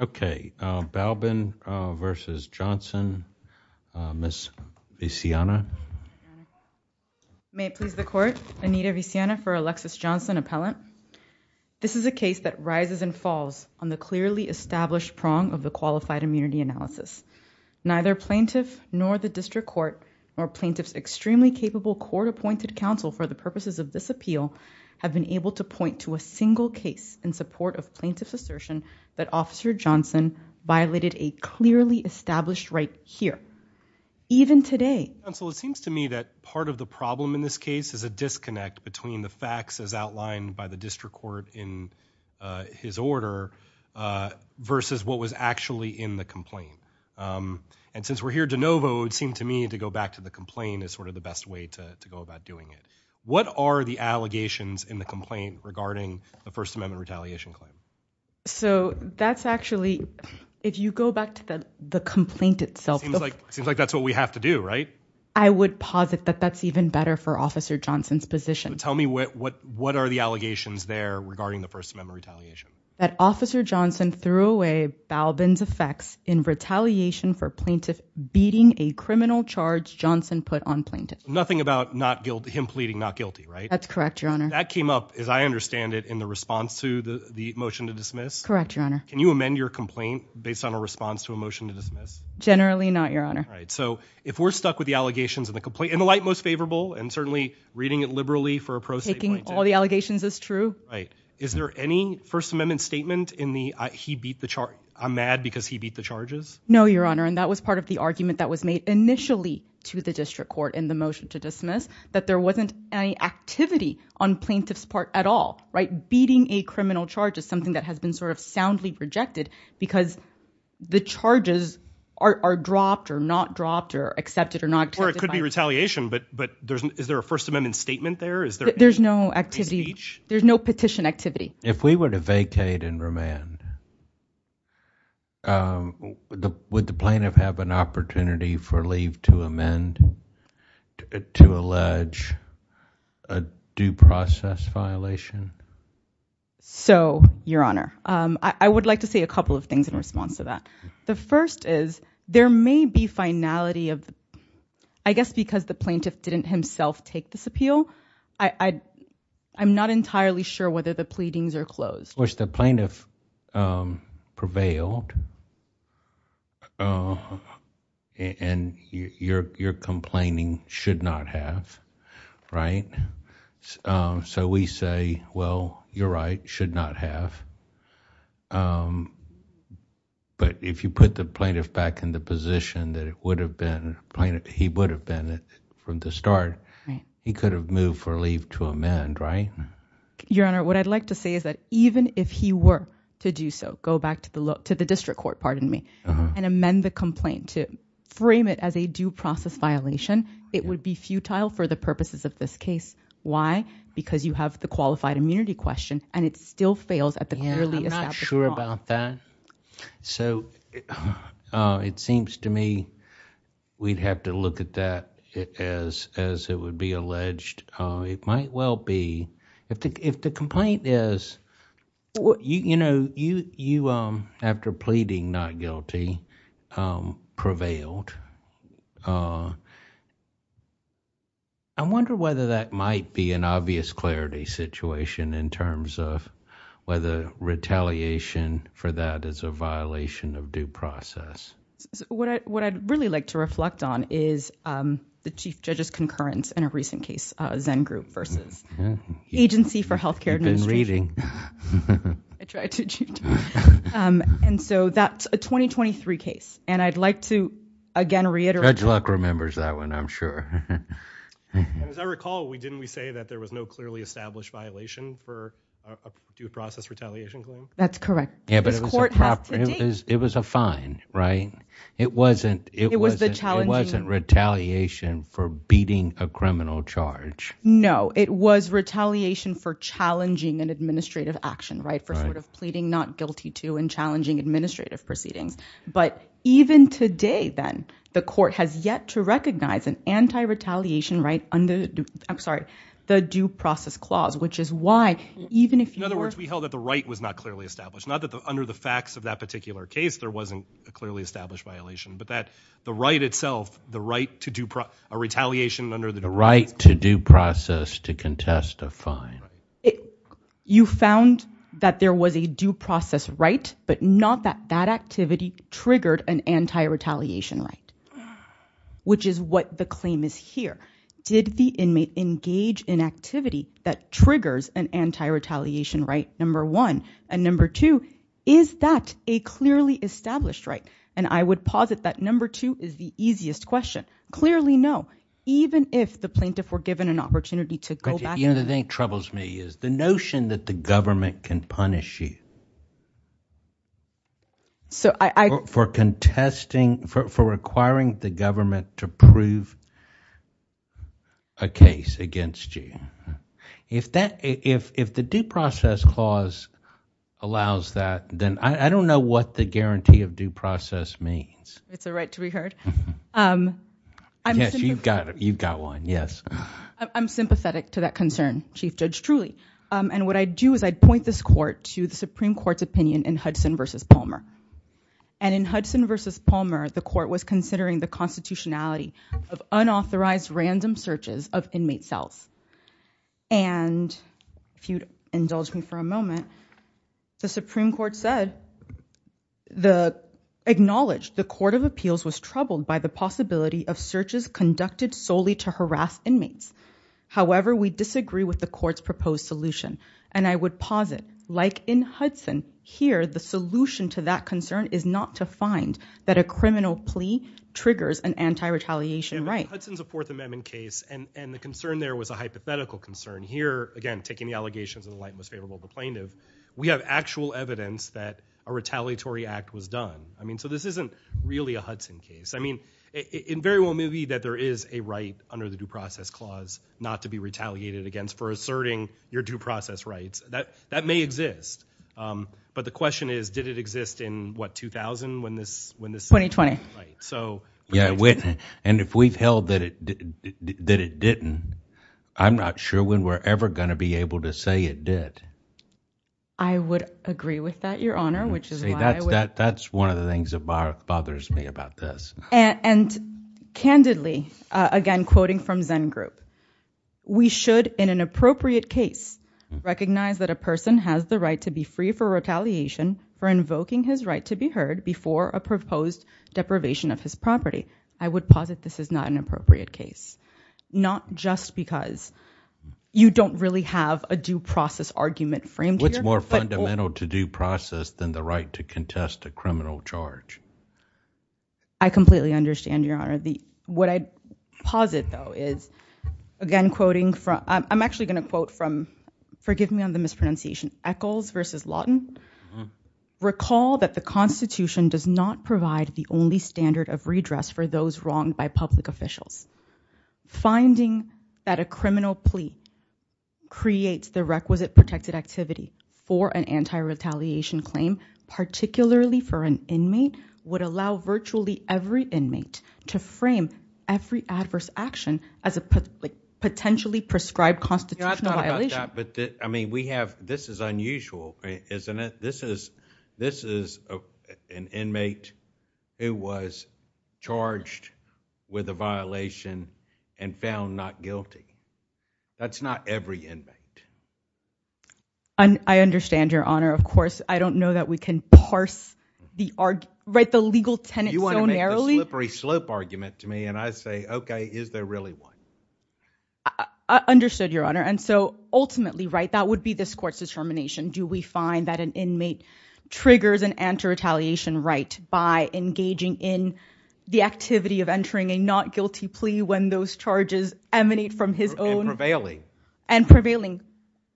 Okay, Balbin v. Johnson, Ms. Viziana? May it please the court, Anita Viziana for Alexis Johnson appellant. This is a case that rises and falls on the clearly established prong of the qualified immunity analysis. Neither plaintiff nor the district court or plaintiffs extremely capable court-appointed counsel for the purposes of this appeal have been able to point to a single case in support of plaintiff's assertion that Officer Johnson violated a clearly established right here, even today. Counsel, it seems to me that part of the problem in this case is a disconnect between the facts as outlined by the district court in his order versus what was actually in the complaint. And since we're here de novo, it seemed to me to go back to the complaint is sort of the best way to go about doing it. What are the allegations in the complaint regarding the First Amendment retaliation claim? So that's actually, if you go back to the the complaint itself, Seems like that's what we have to do, right? I would posit that that's even better for Officer Johnson's position. Tell me what what what are the allegations there regarding the First Amendment retaliation? That Officer Johnson threw away Balbin's effects in retaliation for plaintiff beating a criminal charge Johnson put on plaintiff. Nothing about not guilty, him pleading not guilty, right? That's correct, your honor. That came up, as I understand it, in the response to the motion to dismiss? Correct, your honor. Can you amend your complaint based on a response to a motion to dismiss? Generally not, your honor. Right, so if we're stuck with the allegations in the complaint, in the light most favorable, and certainly reading it liberally for a pro-state point of view. Taking all the allegations as true. Right. Is there any First Amendment statement in the, he beat the charge, I'm mad because he beat the charges? No, your honor, and that was part of the argument that was made initially to the district court in the motion to dismiss, that there wasn't any activity on plaintiff's part at all, right? Beating a criminal charge is something that has been sort of soundly rejected because the charges are dropped or not dropped or accepted or not accepted. Or it could be retaliation, but is there a First Amendment statement there? There's no activity, there's no petition activity. If we were to vacate and remand, would the plaintiff have an opportunity for leave to amend, to allege a due process violation? So, your honor, I would like to say a couple of things in response to that. The first is there may be finality of, I guess because the plaintiff didn't himself take this appeal, I'm not entirely sure whether the pleadings are closed. Which the plaintiff prevailed and your complaining should not have, right? So we say, well, you're right, should not have. But if you put the plaintiff back in the position that it would have been, he would have been from the start, he could have moved for leave to amend, right? Your honor, what I'd like to say is that even if he were to do so, go back to the district court, pardon me, and amend the complaint to frame it as a due process violation, it would be futile for the purposes of this case. Why? Because you have the qualified immunity question and it still fails at the clearly established law. I'm not sure about that. So, it seems to me we'd have to look at that as it would be alleged. It might well be, if the complaint is... you know, after pleading not guilty, prevailed. I wonder whether that might be an obvious clarity situation in terms of whether retaliation for that is a violation of due process. What I'd really like to reflect on is the Chief Judge's concurrence in a recent case, Zen Group versus Agency for Healthcare Administration. And so, that's a 2023 case. And I'd like to, again, reiterate... Judge Luck remembers that one, I'm sure. And as I recall, didn't we say that there was no clearly established violation for a due process retaliation claim? That's correct. Yeah, but it was a fine, right? It wasn't retaliation for beating a criminal charge. No, it was retaliation for challenging an administrative action, right? For sort of pleading not guilty to and challenging administrative proceedings. But even today, then, the court has yet to recognize an anti-retaliation right under... I'm sorry, the due process clause, which is why even if... In other words, we held that the right was not clearly established. Not that under the facts of that particular case there wasn't a clearly established violation, but that the right itself, the right to do... a retaliation under the... The right to due process to contest a fine. You found that there was a due process right, but not that that activity triggered an anti-retaliation right, which is what the claim is here. Did the inmate engage in activity that triggers an anti-retaliation right, number one? And is that a clearly established right? And I would posit that number two is the easiest question. Clearly, no. Even if the plaintiff were given an opportunity to go back... You know, the thing that troubles me is the notion that the government can punish you. So I... For contesting... for requiring the government to prove a case against you. If the due process clause allows that, then I don't know what the guarantee of due process means. It's a right to be heard. Yes, you've got one. Yes. I'm sympathetic to that concern, Chief Judge, truly. And what I'd do is I'd point this court to the Supreme Court's opinion in Hudson v. Palmer. And in Hudson v. Palmer, the court was considering the constitutionality of unauthorized random searches of inmate cells. And if you'd indulge me for a moment, the Supreme Court said... the... acknowledged the Court of Appeals was troubled by the possibility of searches conducted solely to harass inmates. However, we disagree with the court's proposed solution. And I would posit, like in Hudson, here the solution to that concern is not to find that a criminal plea triggers an anti-retaliation right. In Hudson's Fourth Amendment case, and the concern there was a hypothetical concern. Here, again, taking the allegations of the light and most favorable of the plaintiff, we have actual evidence that a retaliatory act was done. I mean, so this isn't really a Hudson case. I mean, it very well may be that there is a right under the due process clause not to be retaliated against for asserting your due process rights. That may exist. But the question is, did it exist in, what, 2000 when this... 2020. Right. So... Yeah, it wouldn't. And if we've held that it didn't, I'm not sure when we're ever going to be able to say it did. I would agree with that, Your Honor, which is why I would... See, that's one of the things that bothers me about this. And candidly, again, quoting from Zengroup, we should, in an appropriate case, recognize that a person has the right to be free for retaliation for invoking his right to be heard before a proposed deprivation of his property. I would posit this is not an appropriate case. Not just because you don't really have a due process argument framed here, but... What's more fundamental to due process than the right to contest a criminal charge? I completely understand, Your Honor. What I'd posit, though, is, again, quoting from... I'm actually going to quote from, forgive me on the mispronunciation, Echols v. Lawton. Recall that the Constitution does not provide the only standard of redress for those wronged by public officials. Finding that a criminal plea creates the requisite protected activity for an anti-retaliation claim, particularly for an inmate, would allow virtually every inmate to frame every adverse action as a potentially prescribed constitutional violation. This is unusual, isn't it? This is an inmate who was charged with a violation and found not guilty. That's not every inmate. I understand, Your Honor. Of course, I don't know that we can parse the legal tenet so You want to make the slippery slope argument to me, and I say, okay, is there really one? I understood, Your Honor. Ultimately, that would be this court's determination. Do we find that an inmate triggers an anti-retaliation right by engaging in the activity of entering a not guilty plea when those charges emanate from his own... And prevailing. And prevailing,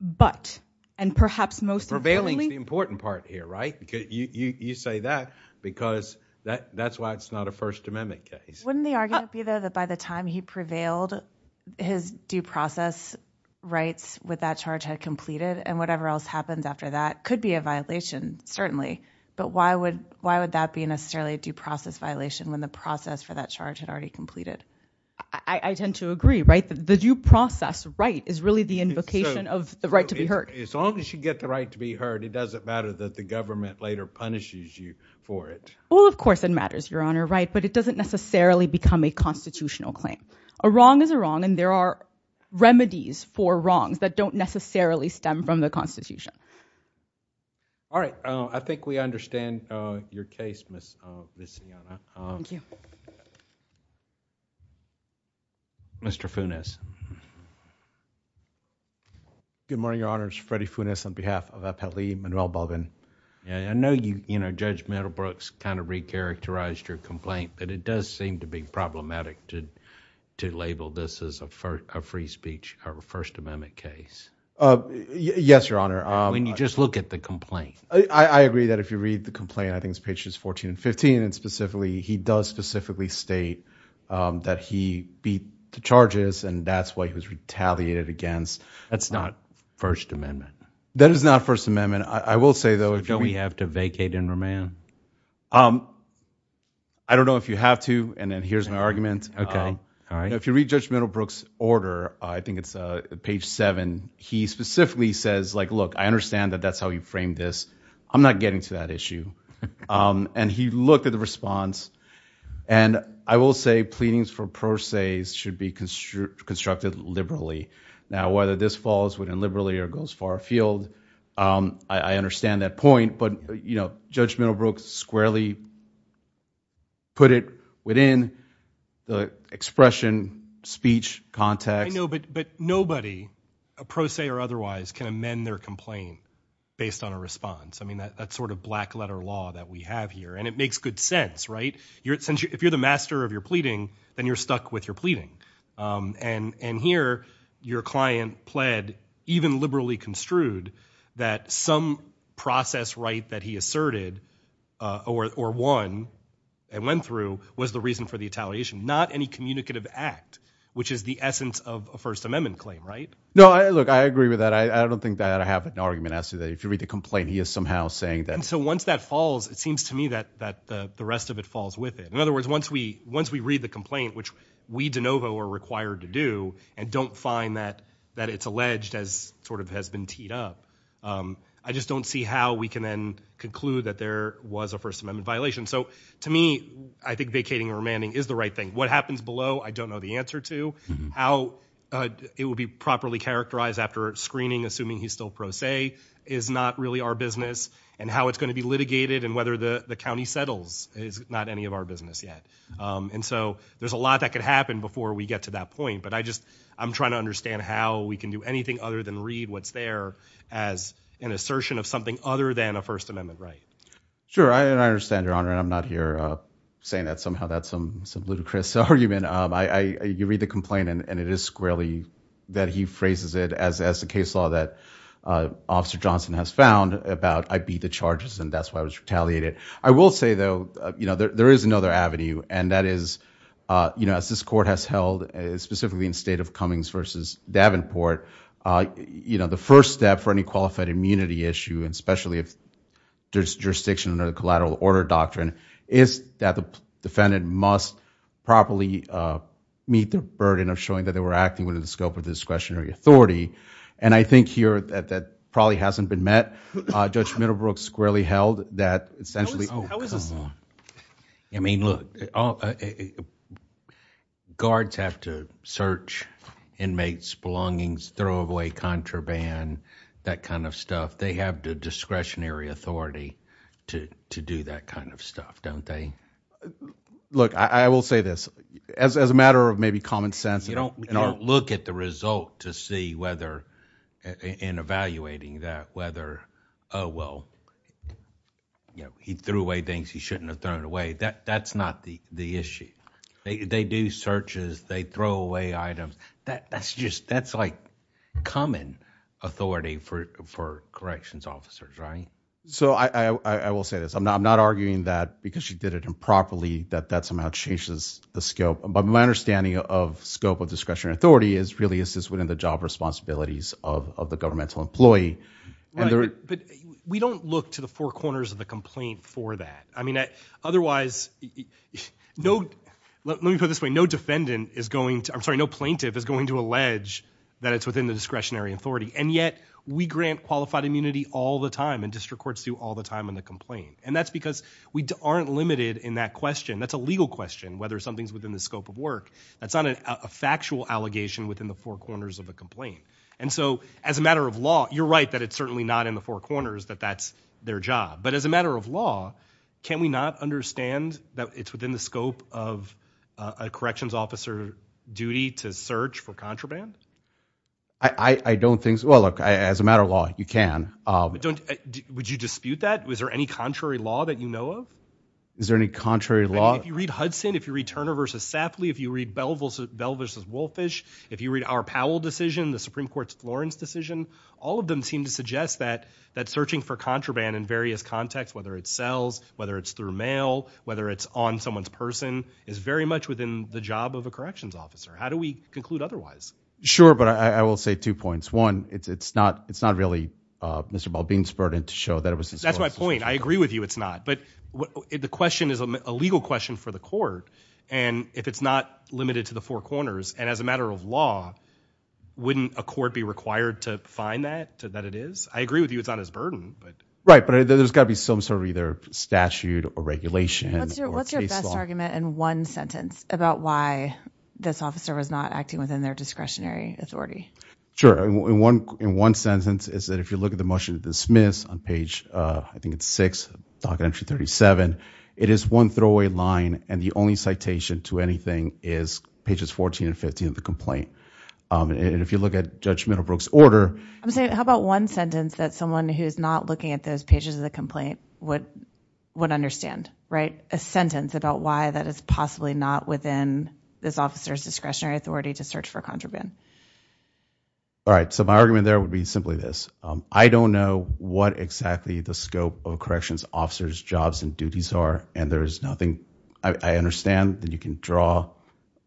but. And perhaps most importantly... Prevailing is the important part here, right? You say that because that's why it's not a First Amendment case. Wouldn't the argument be, though, that by the time he prevailed, his due process rights with that charge had completed, and whatever else happens after that could be a violation, certainly. But why would that be necessarily a due process violation when the process for that charge had already completed? I tend to agree, right? The due process right is really the invocation of the right to be As long as you get the right to be heard, it doesn't matter that the government later punishes you for it. Well, of course it matters, Your Honor, right? But it doesn't necessarily become a constitutional claim. A wrong is a wrong, and there are remedies for wrongs that don't necessarily stem from the Constitution. All right. I think we understand your case, Ms. Siena. Mr. Funes. Good morning, Your Honor. It's Freddie Funes on behalf of Appellee Manuel Bogan. I know you, you know, Judge Meadowbrook's kind of recharacterized your complaint, but it does seem to be problematic to label this as a free speech or a First Amendment case. Yes, Your Honor. When you just look at the complaint. I agree that if you read the complaint, I think it's pages 14 and 15, and specifically he does specifically state that he beat the charges, and that's why he was retaliated against. That's not First Amendment. That is not First Amendment. I will say, though, if you Do we have to vacate and remain? I don't know if you have to, and then here's my argument. Okay. All right. If you read Judge Meadowbrook's order, I think it's page 7, he specifically says, like, look, I understand that that's how you framed this. I'm not getting to that issue. And he looked at the response, and I will say pleadings for pro se should be constructed liberally. Now, whether this falls within liberally or goes far afield, I understand that point, but, you know, Judge Meadowbrook squarely put it within the expression, speech, context. But nobody, pro se or otherwise, can amend their complaint based on a response. I mean, that's sort of black letter law that we have here, and it makes good sense, right? If you're the master of your pleading, then you're stuck with your pleading. And here, your client pled even liberally construed that some process right that he asserted or won and went through was the reason for the retaliation, not any communicative act, which is the essence of a First Amendment claim, right? No, look, I agree with that. I don't think that I have an argument as to that. If you read the complaint, he is somehow saying that. And so once that falls, it seems to me that the rest of it falls with it. In other words, once we read the complaint, which we de novo are required to do, and don't find that it's alleged as sort of has been teed up, I just don't see how we can then conclude that there was a First Amendment violation. So to me, I think vacating or remanding is the right thing. What happens below, I don't know the answer to. How it will be properly characterized after screening, assuming he's still pro se, is not really our business. And how it's going to be litigated and whether the county settles is not any of our business yet. And so there's a lot that could happen before we get to that point. But I just, I'm trying to understand how we can do anything other than read what's there as an assertion of something other than a First Amendment right. Sure, I understand, Your Honor, and I'm not here saying that somehow that's some ludicrous argument. You read the complaint, and it is squarely that he phrases it as the case law that Officer Johnson has found about, I beat the charges and that's why I was retaliated. I will say, though, you know, there is another avenue, and that is, you know, as this court has held, specifically in the state of Cummings versus Davenport, you know, the first step for any qualified immunity issue, and especially if there's jurisdiction under the collateral order doctrine, is that the defendant must properly meet the burden of showing that they were acting within the scope of discretionary authority. And I think here that that probably hasn't been met. Judge Middlebrook squarely held that essentially... I mean, look, guards have to search inmates' belongings, throw away contraband, that kind of stuff. They have the discretionary authority to do that kind of stuff, don't they? Look, I will say this. As a matter of maybe common sense... You don't look at the result to see whether, in evaluating that, whether, oh, well, you know, he threw away things he shouldn't have thrown away. That's not the issue. They do searches, they throw away items. That's just, that's like common authority for corrections officers, right? So I will say this. I'm not arguing that because she did it improperly that that somehow changes the scope. But my understanding of scope of discretionary authority is really is this within the job responsibilities of the governmental employee. Right, but we don't look to the four corners of the complaint for that. I mean, otherwise, no... let me put it this way. No defendant is going to... I'm sorry, no plaintiff is going to allege that it's within the discretionary authority. And yet, we grant qualified immunity all the time, and district courts do all the time on the complaint. And that's because we aren't limited in that question. That's a legal question, whether something's within the scope of work. That's not a factual allegation within the four corners of a complaint. And so, as a matter of law, you're right that it's certainly not in the four corners that that's their job. But as a matter of law, can we not understand that it's within the scope of a corrections officer duty to search for contraband? I don't think... well, look, as a matter of law, you can. Don't... would you dispute that? Is there any contrary law that you know of? Is there any contrary law? I mean, if you read Hudson, if you read Turner v. Safley, if you read Bell v. Wolfish, if you read our Powell decision, the Supreme Court's Florence decision, all of them seem to suggest that searching for contraband in various contexts, whether it's sales, whether it's through mail, whether it's on someone's person, is very much within the job of a corrections officer. How do we conclude otherwise? Sure, but I will say two points. One, it's not... it's not really Mr. Baldwin's burden to show that it was his... That's my point. I agree with you it's not. But the question is a legal question for the court. And if it's not limited to the four corners, and as a matter of law, wouldn't a court be required to find that, that it is? I agree with you it's not his burden, but... Right, but there's got to be some sort of either statute or regulation or case law. What's your best argument in one sentence about why this officer was not acting within their discretionary authority? Sure, in one sentence is that if you look at the motion to dismiss on page, I think it's six, docket entry 37, it is one throwaway line and the only citation to anything is pages 14 and 15 of the complaint. And if you look at Judge Middlebrook's order... I'm saying how about one sentence that someone who's not looking at those pages of the complaint would understand, right? A sentence about why that is possibly not within this officer's discretionary authority to search for a contraband. All right, so my argument there would be simply this. I don't know what exactly the scope of a corrections officer's jobs and duties are and there is nothing... I understand that you can draw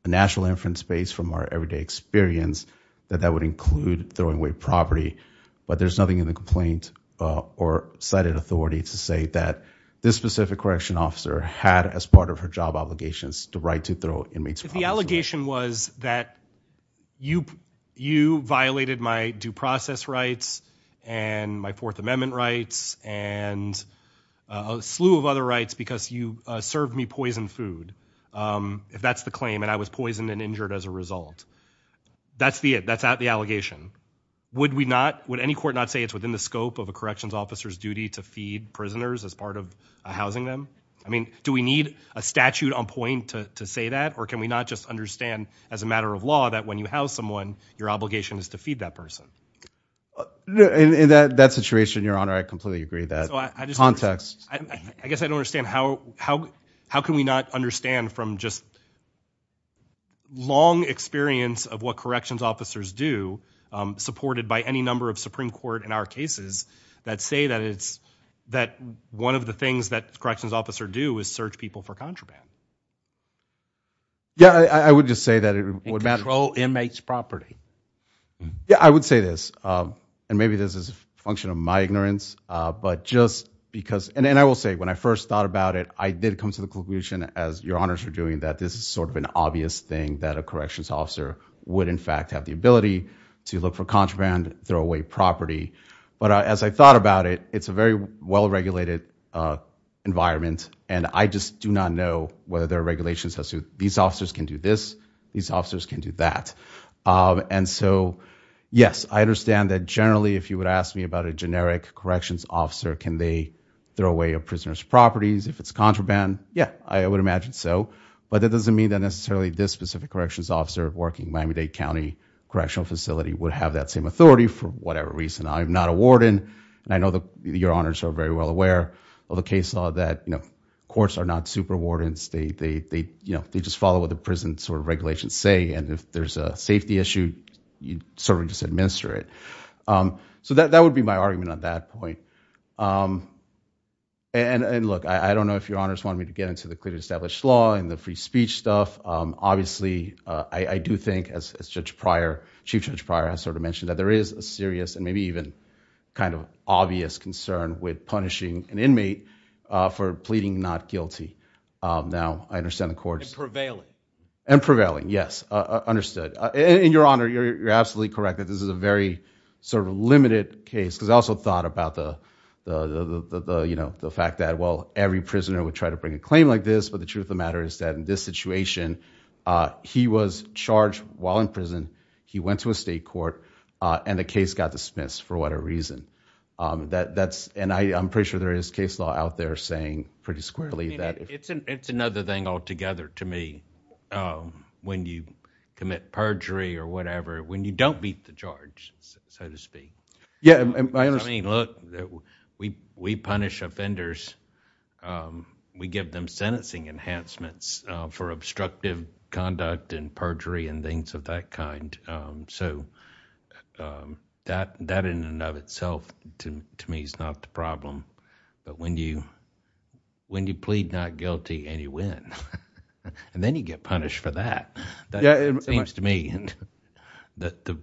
a national inference base from our everyday experience that that would include throwing away property, but there's nothing in the complaint or cited authority to say that this specific correction officer had as part of her job obligations the right to throw inmates... If the allegation was that you violated my due process rights and my Fourth Amendment rights and a slew of other rights because you served me poisoned food, if that's the claim and I was poisoned and injured as a result, that's the it, that's the allegation. Would we not, would any court not say it's within the scope of a corrections officer's duty to feed prisoners as part of housing them? I mean, do we need a statute on point to say that or can we not just understand as a matter of law that when you house someone, your obligation is to feed that person? In that situation, Your Honor, I completely agree that context... I guess I don't understand how can we not understand from just long experience of what corrections officers do, supported by any number of Supreme Court in our cases, that say that it's, that one of the things that a corrections officer do is search people for contraband. Yeah, I would just say that it would... And control inmates' property. Yeah, I would say this, and maybe this is a function of my ignorance, but just because, and I will say, when I first thought about it, I did come to the conclusion, as Your Honors are doing, that this is sort of an obvious thing that a corrections officer would in fact have the ability to look for contraband, throw away property, but as I thought about it, it's a very well-regulated environment and I just do not know whether there are regulations that say these officers can do this, these officers can do that. And so, yes, I understand that generally, if you would ask me about a generic corrections officer, can they throw away a prisoner's properties if it's contraband? Yeah, I would imagine so, but that doesn't mean that necessarily this specific corrections officer working Miami-Dade County Correctional Facility would have that same authority for whatever reason. I'm not a warden, and I know that Your Honors are very well aware of the case law that courts are not super wardens, they just follow what the prison regulations say, and if there's a safety issue, you sort of just administer it. So that would be my argument on that point. And look, I don't know if Your Honors want me to get into the clearly established law and the free speech stuff. Obviously, I do think, as Chief Judge Pryor has sort of mentioned, that there is a serious and maybe even kind of obvious concern with punishing an inmate for pleading not guilty. Now, I understand the courts- And prevailing. And prevailing, yes, understood. And Your Honor, you're absolutely correct that this is a very sort of limited case, because I also thought about the fact that, well, every prisoner would try to bring a claim like this, but the truth of the matter is that in this situation, he was charged while in prison, he went to a state court, and the case got dismissed for whatever reason. And I'm pretty sure there is case law out there saying pretty squarely that- I mean, it's another thing altogether to me, when you commit perjury or whatever, when you don't beat the charge, so to speak. Yeah, I understand. I mean, look, we punish offenders. We give them sentencing enhancements for obstructive conduct and perjury and things of that kind. So, that in and of itself, to me, is not the problem. But when you plead not guilty and you win, and then you get punished for that, that seems to me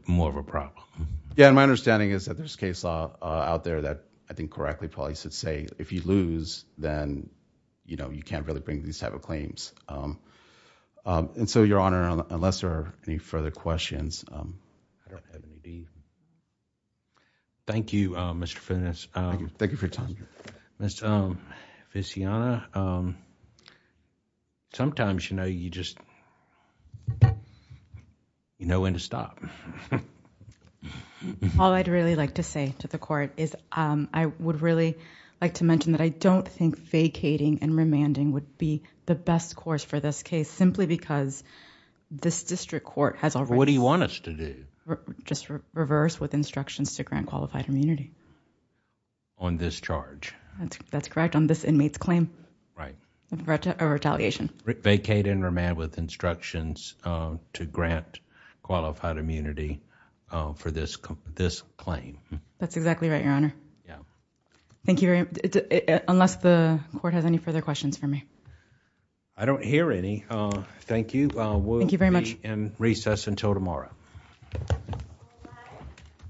more of a problem. Yeah, and my understanding is that there's case law out there that, I think, correctly probably should say, if you lose, then you can't really bring these type of claims. And so, Your Honor, unless there are any further questions, I don't have any. Thank you, Mr. Finnis. Thank you for your time. Ms. Viziana, sometimes, you know, you just... you know when to stop. All I'd really like to say to the court is I would really like to mention that I don't think vacating and remanding would be the best course for this case, simply because this district court has already... What do you want us to do? Just reverse with instructions to grant qualified immunity. On this charge. That's correct, on this inmate's claim. A retaliation. Vacate and remand with instructions to grant qualified immunity for this claim. That's exactly right, Your Honor. Yeah. Thank you very... unless the court has any further questions for me. I don't hear any. Thank you. Thank you very much. We'll be in recess until tomorrow.